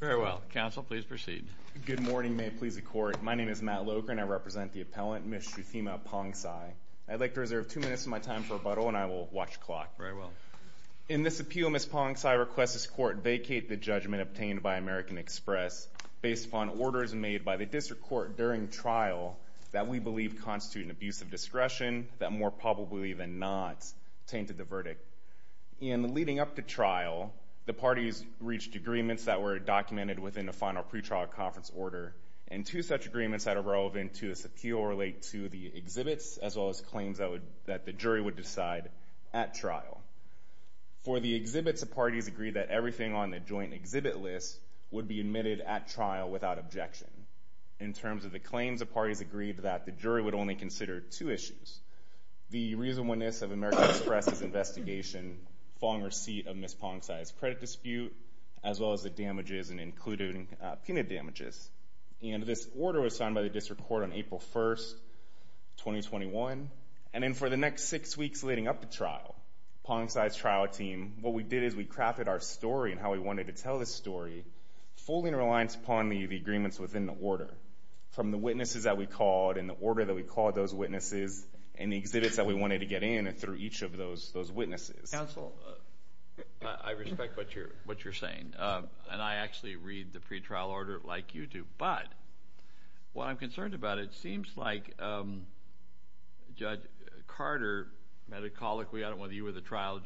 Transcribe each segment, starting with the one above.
Very well. Counsel, please proceed. Good morning. May it please the court. My name is Matt Loker and I represent the appellant, Ms. Suthima Pongsai. I'd like to reserve two minutes of my time for rebuttal and I will watch the clock. Very well. In this appeal, Ms. Pongsai requests this court vacate the judgment obtained by American Express based upon orders made by the district court during trial that we believe constitute an abuse of discretion that more probably even not tainted the verdict. In leading up to trial, the parties reached agreements that were documented within the final pretrial conference order and two such agreements that are relevant to this appeal relate to the exhibits as well as claims that the jury would decide at trial. For the exhibits, the parties agreed that everything on the joint exhibit list would be admitted at trial without objection. In terms of the claims, the parties agreed that the jury would only consider two issues. As well as the damages and included penal damages. And this order was signed by the district court on April 1st, 2021. And then for the next six weeks leading up to trial, Pongsai's trial team, what we did is we crafted our story and how we wanted to tell this story fully in reliance upon the agreements within the order. From the witnesses that we called and the order that we called those witnesses and the exhibits that we wanted to get in and through each of those witnesses. Counsel, I respect what you're saying. And I actually read the pretrial order like you do. But what I'm concerned about, it seems like Judge Carter, metacolically, I don't know whether you were the trial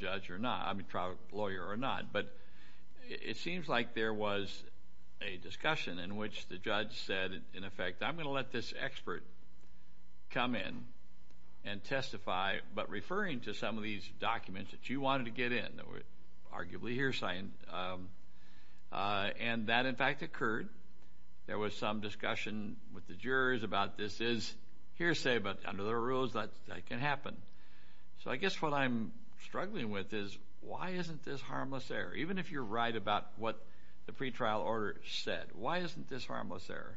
lawyer or not, but it seems like there was a discussion in which the judge said, in effect, I'm gonna let this expert come in and testify, but referring to some of these documents that you wanted to get in, that was arguably hearsay. And that, in fact, occurred. There was some discussion with the jurors about this is hearsay, but under the rules that can happen. So I guess what I'm struggling with is, why isn't this harmless error? Even if you're right about what the pretrial order said, why isn't this harmless error?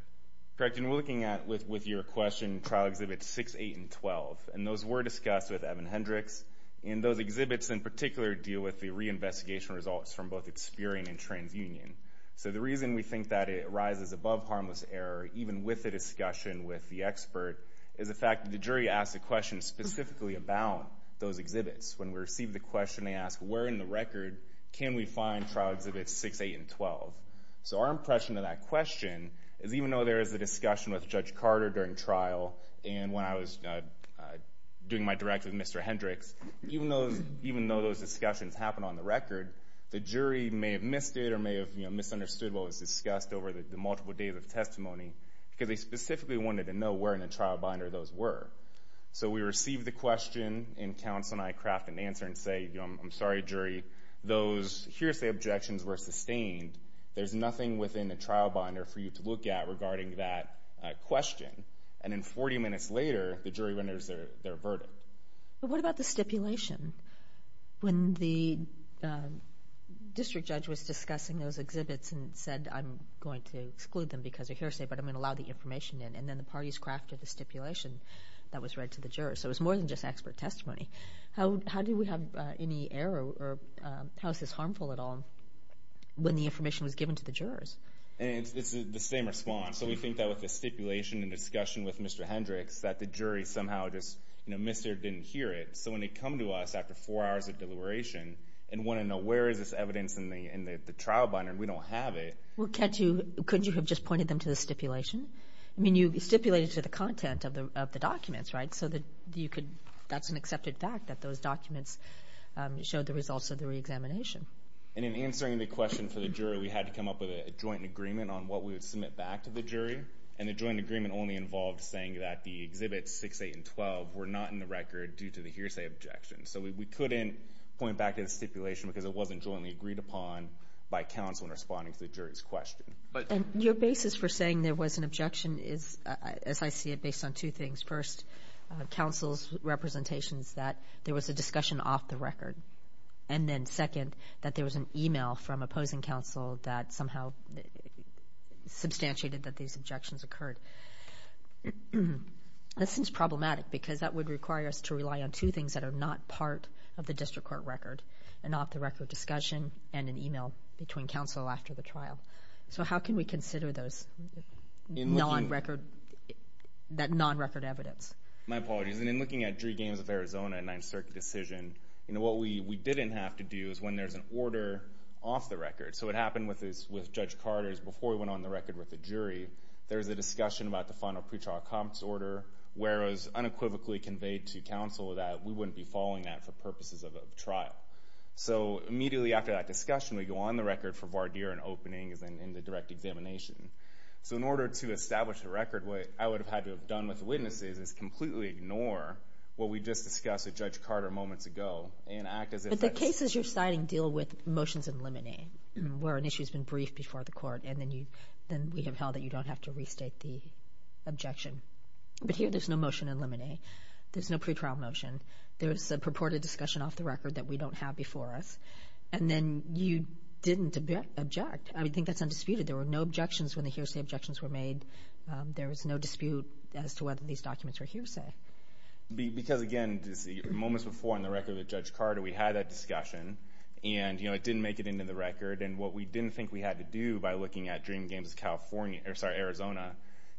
Correct. We've been looking at, with your question, trial exhibits 6, 8, and 12. And those were discussed with Evan Hendricks. And those exhibits, in particular, deal with the reinvestigation results from both Experian and TransUnion. So the reason we think that it rises above harmless error, even with the discussion with the expert, is the fact that the jury asked a question specifically about those exhibits. When we received the question, they asked, where in the record can we find trial exhibits 6, 8, and 12? So our impression of that question is, even though there was a discussion with Judge Carter during trial, and when I was doing my direct with Mr. Hendricks, even though those discussions happened on the record, the jury may have missed it or may have misunderstood what was discussed over the multiple days of testimony, because they specifically wanted to know where in the trial binder those were. So we received the question, and counsel and I craft an answer and say, I'm sorry, jury. Those hearsay objections were sustained. There's nothing within a trial binder for you to look at regarding that question. And then 40 minutes later, the jury renders their verdict. But what about the stipulation? When the district judge was discussing those exhibits and said, I'm going to exclude them because of hearsay, but I'm gonna allow the information in, and then the parties crafted the stipulation that was read to the jurors. So it was more than just expert testimony. How do we have any error, or how is this harmful at all, when the information was given to the jurors? And it's the same response. So we think that with the stipulation and discussion with Mr. Hendricks, that the jury somehow just missed or didn't hear it. So when they come to us after four hours of deliberation and wanna know where is this evidence in the trial binder, and we don't have it. Well, couldn't you have just pointed them to the stipulation? I mean, you stipulated to the content of the documents, right? That's an accepted fact that those documents showed the results of the reexamination. And in the question for the jury, we had to come up with a joint agreement on what we would submit back to the jury, and the joint agreement only involved saying that the exhibits 6, 8, and 12 were not in the record due to the hearsay objection. So we couldn't point back to the stipulation because it wasn't jointly agreed upon by counsel in responding to the jury's question. And your basis for saying there was an objection is, as I see it, based on two things. First, counsel's representation is that there was a discussion off the record. And then second, that there was an email from opposing counsel that somehow substantiated that these objections occurred. This is problematic because that would require us to rely on two things that are not part of the district court record, an off the record discussion and an email between counsel after the trial. So how can we consider those non record... That non record evidence? My apologies. And in looking at Drie Games of Arizona and 9th Circuit decision, what we didn't have to do is when there's an order off the record. So what happened with Judge Carter is before we went on the record with the jury, there was a discussion about the final pretrial accomplice order where it was unequivocally conveyed to counsel that we wouldn't be following that for purposes of a trial. So immediately after that discussion, we go on the record for voir dire and opening as in the direct examination. So in order to establish the record, what I would have had to have done with the witnesses is completely ignore what we just discussed with Judge Carter moments ago and act as if... But the cases you're citing deal with motions in limine where an issue has been briefed before the court and then we have held that you don't have to restate the objection. But here there's no motion in limine. There's no pretrial motion. There's a purported discussion off the record that we don't have before us. And then you didn't object. I think that's undisputed. There were no objections when the hearsay objections were made. There was no dispute as to whether these documents were hearsay. Because again, moments before on the record with Judge Carter, we had that discussion and it didn't make it into the record. And what we didn't think we had to do by looking at Dream Games Arizona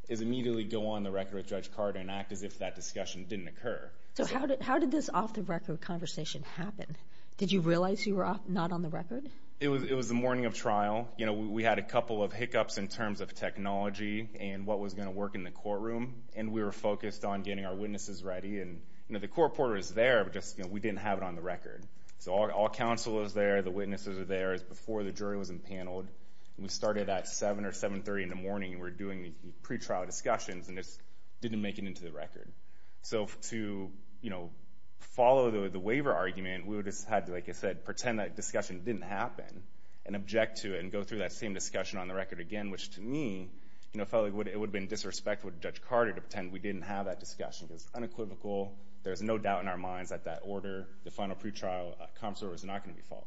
is immediately go on the record with Judge Carter and act as if that discussion didn't occur. So how did this off the record conversation happen? Did you realize you were not on the record? It was the morning of trial. We had a couple of hiccups in terms of technology and what was gonna work in the courtroom. And we were focused on getting our witnesses ready. And the court reporter is there, but just we didn't have it on the record. So all counsel is there, the witnesses are there. It's before the jury was impaneled. We started at 7 or 7.30 in the morning and we're doing the pretrial discussions and it didn't make it into the record. So to follow the waiver argument, we would have just had to, like I said, pretend that discussion didn't happen and object to it and go through that same discussion on the record again, which to me felt like it would have been disrespectful to Judge Carter to pretend we didn't have that discussion. It was unequivocal. There's no doubt in our minds that that order, the final pretrial, a consular is not gonna be followed.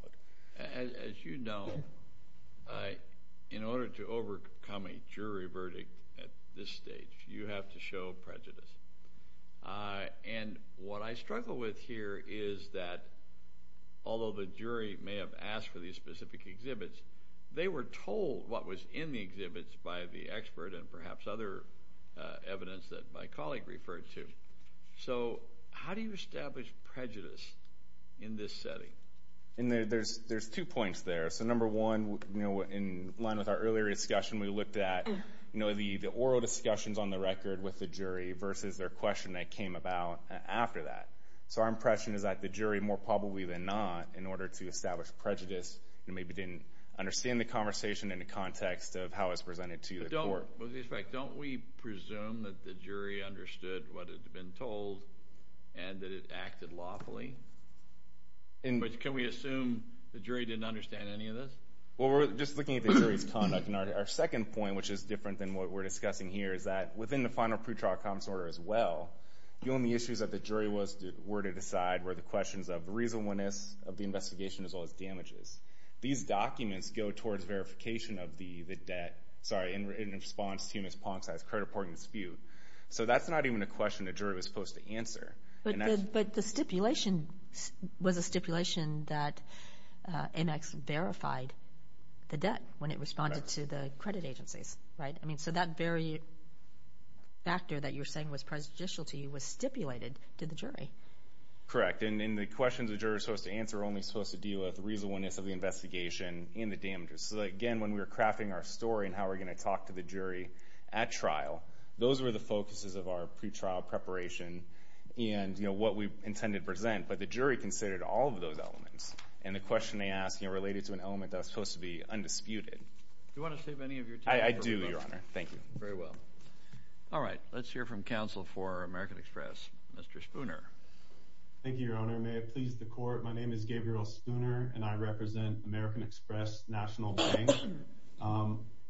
As you know, in order to overcome a jury verdict at this stage, you have to show prejudice. And what I struggle with here is that although the jury may have asked for these specific exhibits, they were told what was in the exhibits by the expert and perhaps other evidence that my colleague referred to. So how do you establish prejudice in this setting? And there's two points there. So number one, in line with our earlier discussion, we looked at the oral discussions on the record with the jury versus their question that came about after that. So our impression is that the jury more probably than not, in order to establish prejudice, maybe didn't understand the context of how it's presented to the court. But don't we presume that the jury understood what had been told and that it acted lawfully? But can we assume the jury didn't understand any of this? Well, we're just looking at the jury's conduct. And our second point, which is different than what we're discussing here, is that within the final pretrial comments order as well, the only issues that the jury were to decide were the questions of reasonableness of the investigation as well as damages. These documents go towards verification of the debt, sorry, in response to Ms. Ponce's credit reporting dispute. So that's not even a question the jury was supposed to answer. But the stipulation was a stipulation that Amex verified the debt when it responded to the credit agencies, right? So that very factor that you're saying was prejudicial to you was stipulated to the jury. Correct. And the questions the jury was supposed to answer were only supposed to deal with reasonableness of the investigation and the damages. So again, when we were crafting our story and how we're gonna talk to the jury at trial, those were the focuses of our pretrial preparation and what we intended to present. But the jury considered all of those elements. And the question they asked related to an element that was supposed to be undisputed. Do you wanna save any of your time? I do, Your Honor. Thank you. Very well. Alright. Let's hear from counsel for American Express, Mr. Spooner. Thank you, Your Honor. May it please the court. My name is Gabriel Spooner, and I represent American Express National Bank.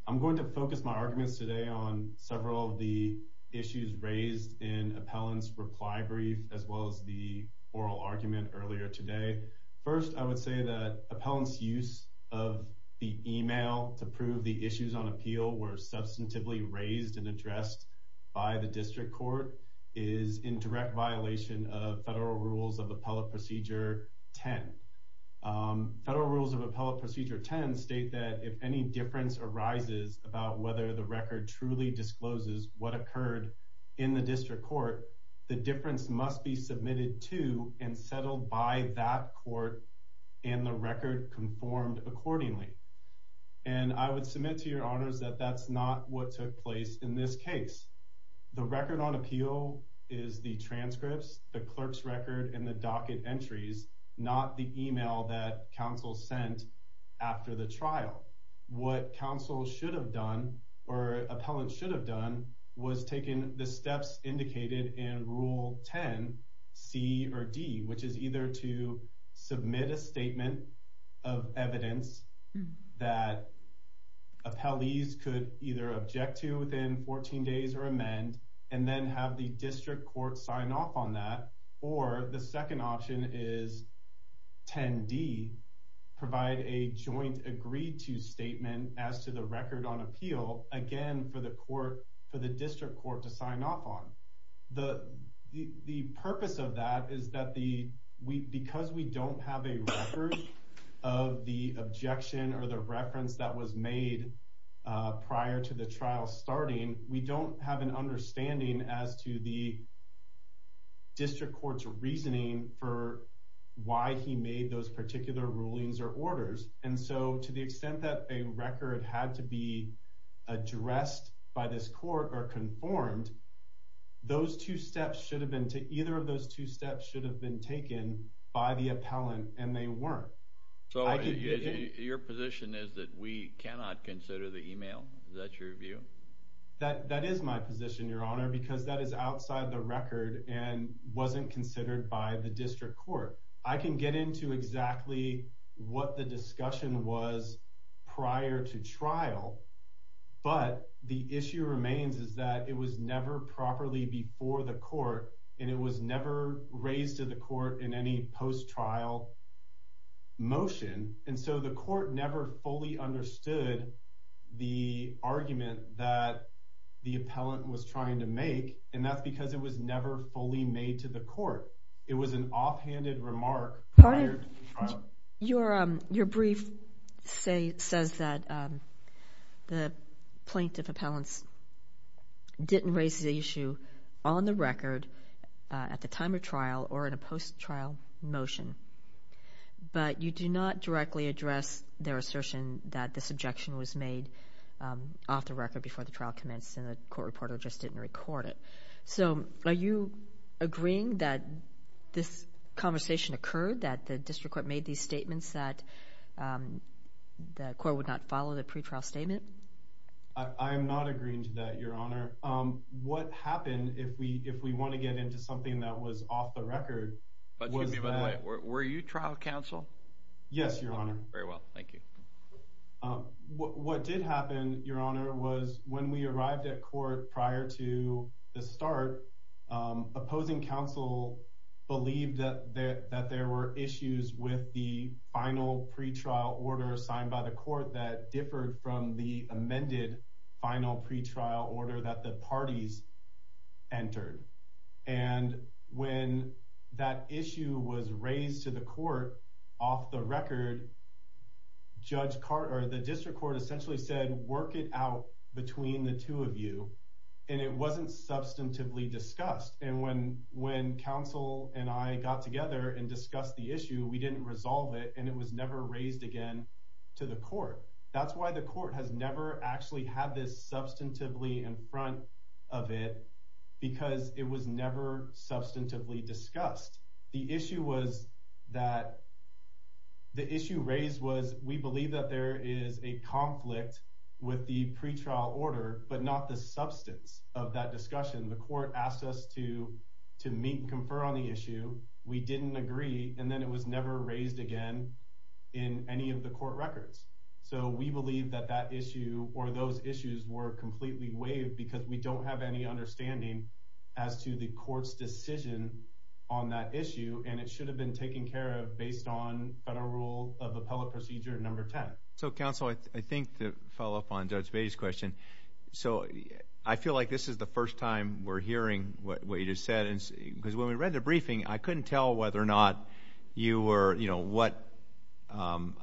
I'm going to focus my arguments today on several of the issues raised in appellant's reply brief, as well as the oral argument earlier today. First, I would say that appellant's use of the email to prove the issues on appeal were substantively raised and addressed by the district court is in direct violation of federal rules of appellate procedure 10. Federal rules of appellate procedure 10 state that if any difference arises about whether the record truly discloses what occurred in the district court, the difference must be submitted to and settled by that court and the record conformed accordingly. And I would place in this case, the record on appeal is the transcripts, the clerk's record, and the docket entries, not the email that counsel sent after the trial. What counsel should have done, or appellant should have done, was taking the steps indicated in Rule 10 C or D, which is either to submit a statement of evidence that appellees could either object to within 14 days or amend, and then have the district court sign off on that. Or the second option is 10 D, provide a joint agreed to statement as to the record on appeal, again, for the court, for the district court to sign off on. The purpose of that is that because we don't have a record of the objection or the reference that was made prior to the trial starting, we don't have an understanding as to the district court's reasoning for why he made those particular rulings or orders. And so to the extent that a record had to be addressed by this court or conformed, those two steps should have been to either of those two steps should have been taken by the appellant, and they weren't. So your position is that we cannot consider the email? Is that your view? That is my position, Your Honor, because that is outside the record and wasn't considered by the district court. I can get into exactly what the discussion was prior to trial. But the issue remains is that it was never properly before the court, and it was never raised to the court in any post trial motion. And so the court never fully understood the argument that the appellant was trying to make, and that's because it was never fully made to the court. It was an offhanded remark. Your your brief say says that the plaintiff appellants didn't raise the issue on the record at the time of trial or in a post trial motion. But you do not directly address their assertion that this objection was made off the record before the trial commenced in the court reporter just didn't record it. So are you agreeing that this conversation occurred that the district court made these statements that the court would not follow the pretrial statement? I'm not agreeing to that, Your Honor. Um, what happened if we if we want to get into something that was off the record? But were you trial counsel? Yes, Your Honor. Very well. Thank you. What did happen, Your Honor, was when we arrived at court prior to the start, um, opposing counsel believed that that there were issues with the final pretrial order signed by the court that differed from the amended final pretrial order that the parties entered. And when that issue was raised to the court off the record, Judge Carter, the district court essentially said, work it out between the two of you. And it wasn't substantively discussed. And when when counsel and I got together and discussed the issue, we didn't resolve it, and it was never raised again to the court. That's why the court has never actually had this substantively in front of it, because it was never substantively discussed. The issue was that the issue raised was we believe that there is a conflict with the pretrial order, but not the substance of that discussion. The court asked us to to in any of the court records. So we believe that that issue or those issues were completely waived because we don't have any understanding as to the court's decision on that issue, and it should have been taken care of based on federal rule of appellate procedure number 10. So, Counsel, I think the follow up on Judge Bay's question. So I feel like this is the first time we're hearing what you just said, because when we read the briefing, I couldn't tell whether or not you were, you know what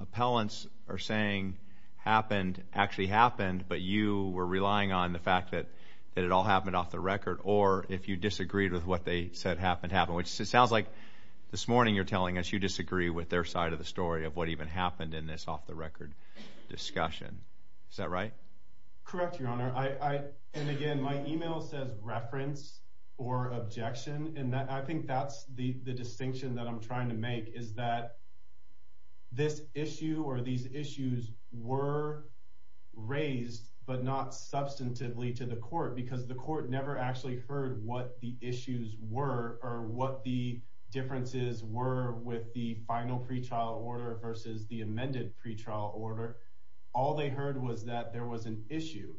appellants are saying happened actually happened. But you were relying on the fact that that it all happened off the record, or if you disagreed with what they said happened happen, which sounds like this morning you're telling us you disagree with their side of the story of what even happened in this off the record discussion. Is that right? Correct, Your Honor. I and again, my email says reference or objection, and I think that's the distinction that I'm trying to make is that this issue or these issues were raised but not substantively to the court because the court never actually heard what the issues were or what the differences were with the final pretrial order versus the amended pretrial order. All they heard was that there was an issue.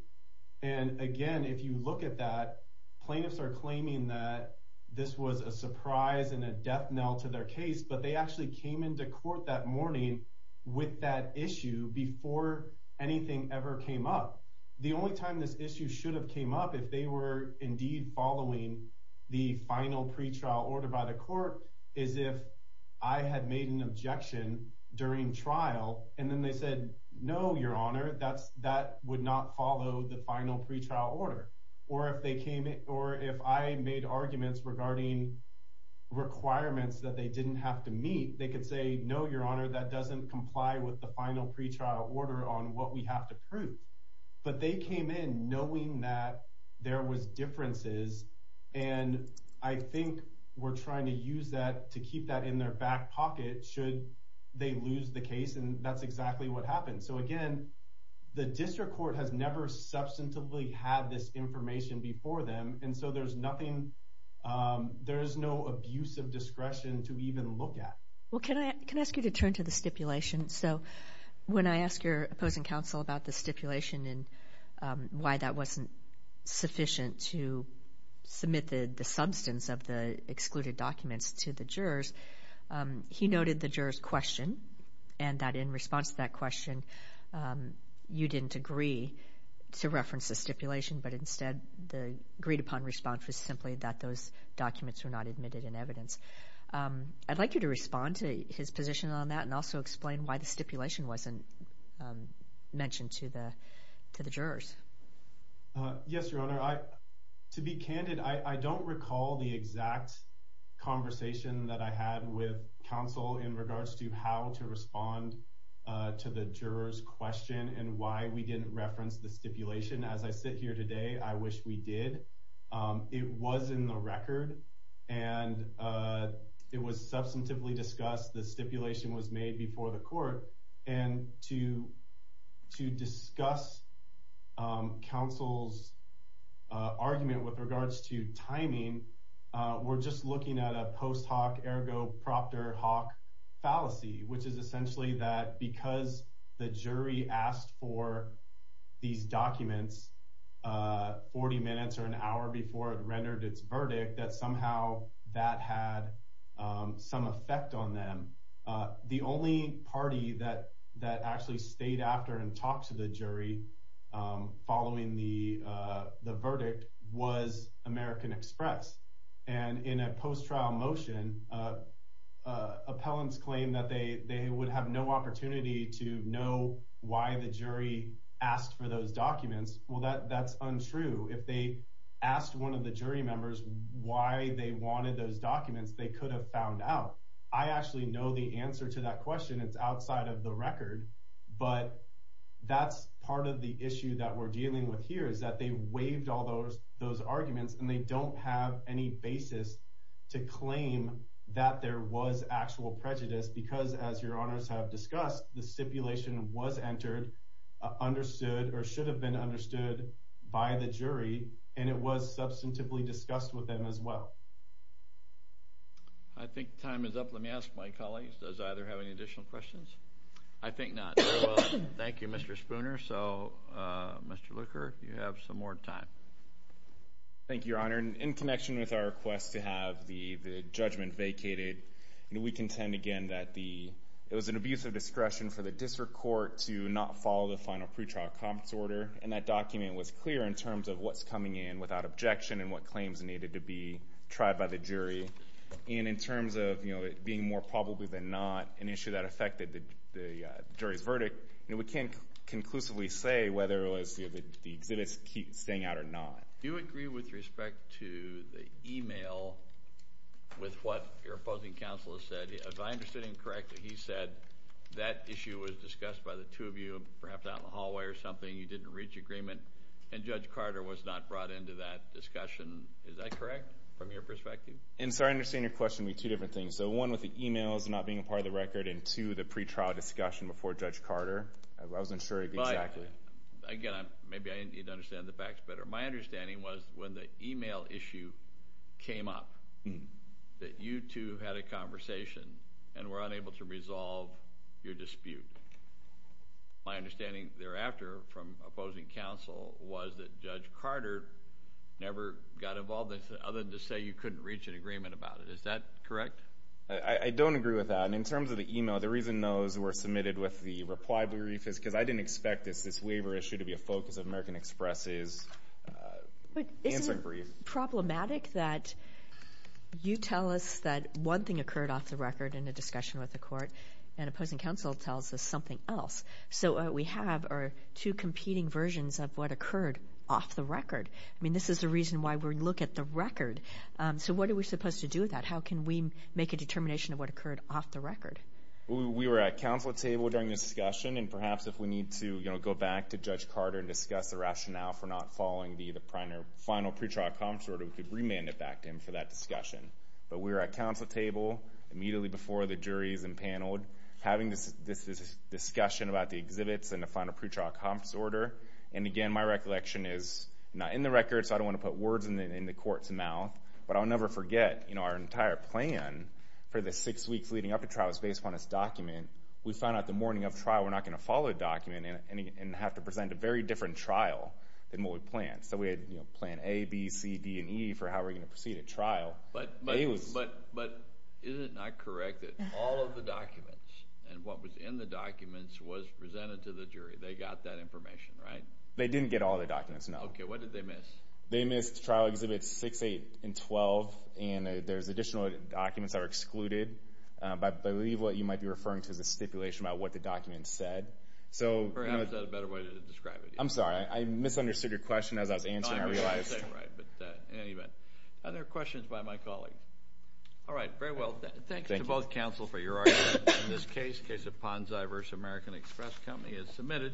And again, if you look at that, plaintiffs are claiming that this was a surprise and a death knell to their case. But they actually came into court that morning with that issue before anything ever came up. The only time this issue should have came up if they were indeed following the final pretrial order by the court is if I had made an objection during trial, and then they said, No, Your Honor, that's or if they came in or if I made arguments regarding requirements that they didn't have to meet, they could say, No, Your Honor, that doesn't comply with the final pretrial order on what we have to prove. But they came in knowing that there was differences, and I think we're trying to use that to keep that in their back pocket should they lose the case. And that's exactly what happened. So again, the district court has never substantively had this information before them. And so there's nothing there is no abuse of discretion to even look at. Well, can I can ask you to turn to the stipulation? So when I ask your opposing counsel about the stipulation and why that wasn't sufficient to submit the substance of the excluded documents to the jurors, he noted the jurors question and that in response to that stipulation. But instead, the agreed upon response was simply that those documents were not admitted in evidence. I'd like you to respond to his position on that and also explain why the stipulation wasn't mentioned to the to the jurors. Yes, Your Honor. I to be candid, I don't recall the exact conversation that I had with counsel in regards to how to respond to the jurors question and why we didn't reference the stipulation. As I sit here today, I wish we did. It was in the record and it was substantively discussed. The stipulation was made before the court and to to discuss counsel's argument with regards to timing. We're just looking at a post hoc ergo proctor hawk fallacy, which is essentially that because the jury asked for these documents 40 minutes or an hour before it rendered its verdict, that somehow that had some effect on them. The only party that that actually stayed after and talked to the jury following the verdict was American Express. And in a post trial motion, appellants claim that they they would have no opportunity to know why the jury asked for those documents. Well, that that's untrue. If they asked one of the jury members why they wanted those documents, they could have found out. I actually know the answer to that question. It's outside of the record, but that's part of the issue that we're dealing with here is that they waived all those those arguments, and they don't have any basis to claim that there was actual prejudice. Because, as your honors have discussed, the stipulation was entered, understood or should have been understood by the jury, and it was substantively discussed with them as well. I think time is up. Let me ask my colleagues. Does either have any additional questions? I think not. Thank you, Mr Spooner. So, uh, Mr Looker, you have some more time. Thank you, Your Honor. In connection with our request to have the judgment vacated, we contend again that the it was an abuse of discretion for the district court to not follow the final pretrial comments order. And that document was clear in terms of what's coming in without objection and what claims needed to be tried by the jury. And in terms of being more probably than not an issue that affected the jury's verdict, we can't conclusively say whether it was the exhibits keep staying out or not. Do you agree with respect to the email with what your opposing counselors said? If I understood incorrectly, he said that issue was discussed by the two of you, perhaps out in the hallway or something. You didn't reach agreement, and Judge Carter was not brought into that discussion. Is that correct from your perspective? And so I understand your question with two different things. So one with the emails not being part of the record and to the pretrial discussion before Judge Carter. I wasn't sure exactly. Again, maybe I need to understand the facts better. My understanding was when the email issue came up that you two had a conversation and were unable to resolve your dispute. My understanding thereafter from opposing counsel was that Judge Carter never got involved. Other to say you couldn't reach an agreement about it. Is that correct? I don't agree with that. And in terms of the email, the reason those were submitted with the reply brief is because I didn't expect this waiver issue to be a focus of American Express's answer brief. But isn't it problematic that you tell us that one thing occurred off the record in the discussion with the court, and opposing counsel tells us something else. So what we have are two competing versions of what occurred off the record. I mean, this is the reason why we look at the record. So what are we supposed to do with that? How can we make a determination of what occurred off the record? We were at counsel table during this discussion, and perhaps if we need to go back to Judge Carter and discuss the rationale for not following the final pretrial comps order, we could remand it back in for that discussion. But we were at counsel table immediately before the juries and paneled, having this discussion about the exhibits and the final pretrial comps order. And again, my recollection is not in the record, so I don't wanna put words in the court's head. But what we had planned for the six weeks leading up to trial is based upon this document. We found out the morning of trial, we're not gonna follow the document and have to present a very different trial than what we planned. So we had plan A, B, C, D, and E for how we're gonna proceed at trial. But is it not correct that all of the documents and what was in the documents was presented to the jury? They got that information, right? They didn't get all the documents, no. Okay, what did they miss? They missed trial exhibits 6, 8, and 12, and there's additional documents that are excluded. But I believe what you might be referring to is a stipulation about what the document said. So... Perhaps that's a better way to describe it. I'm sorry, I misunderstood your question as I was answering, I realized. No, I didn't say it right, but in any event. Other questions by my colleague? Alright, very well. Thank you to both counsel for your argument. In this case, case of Ponzi versus American Express Company is submitted.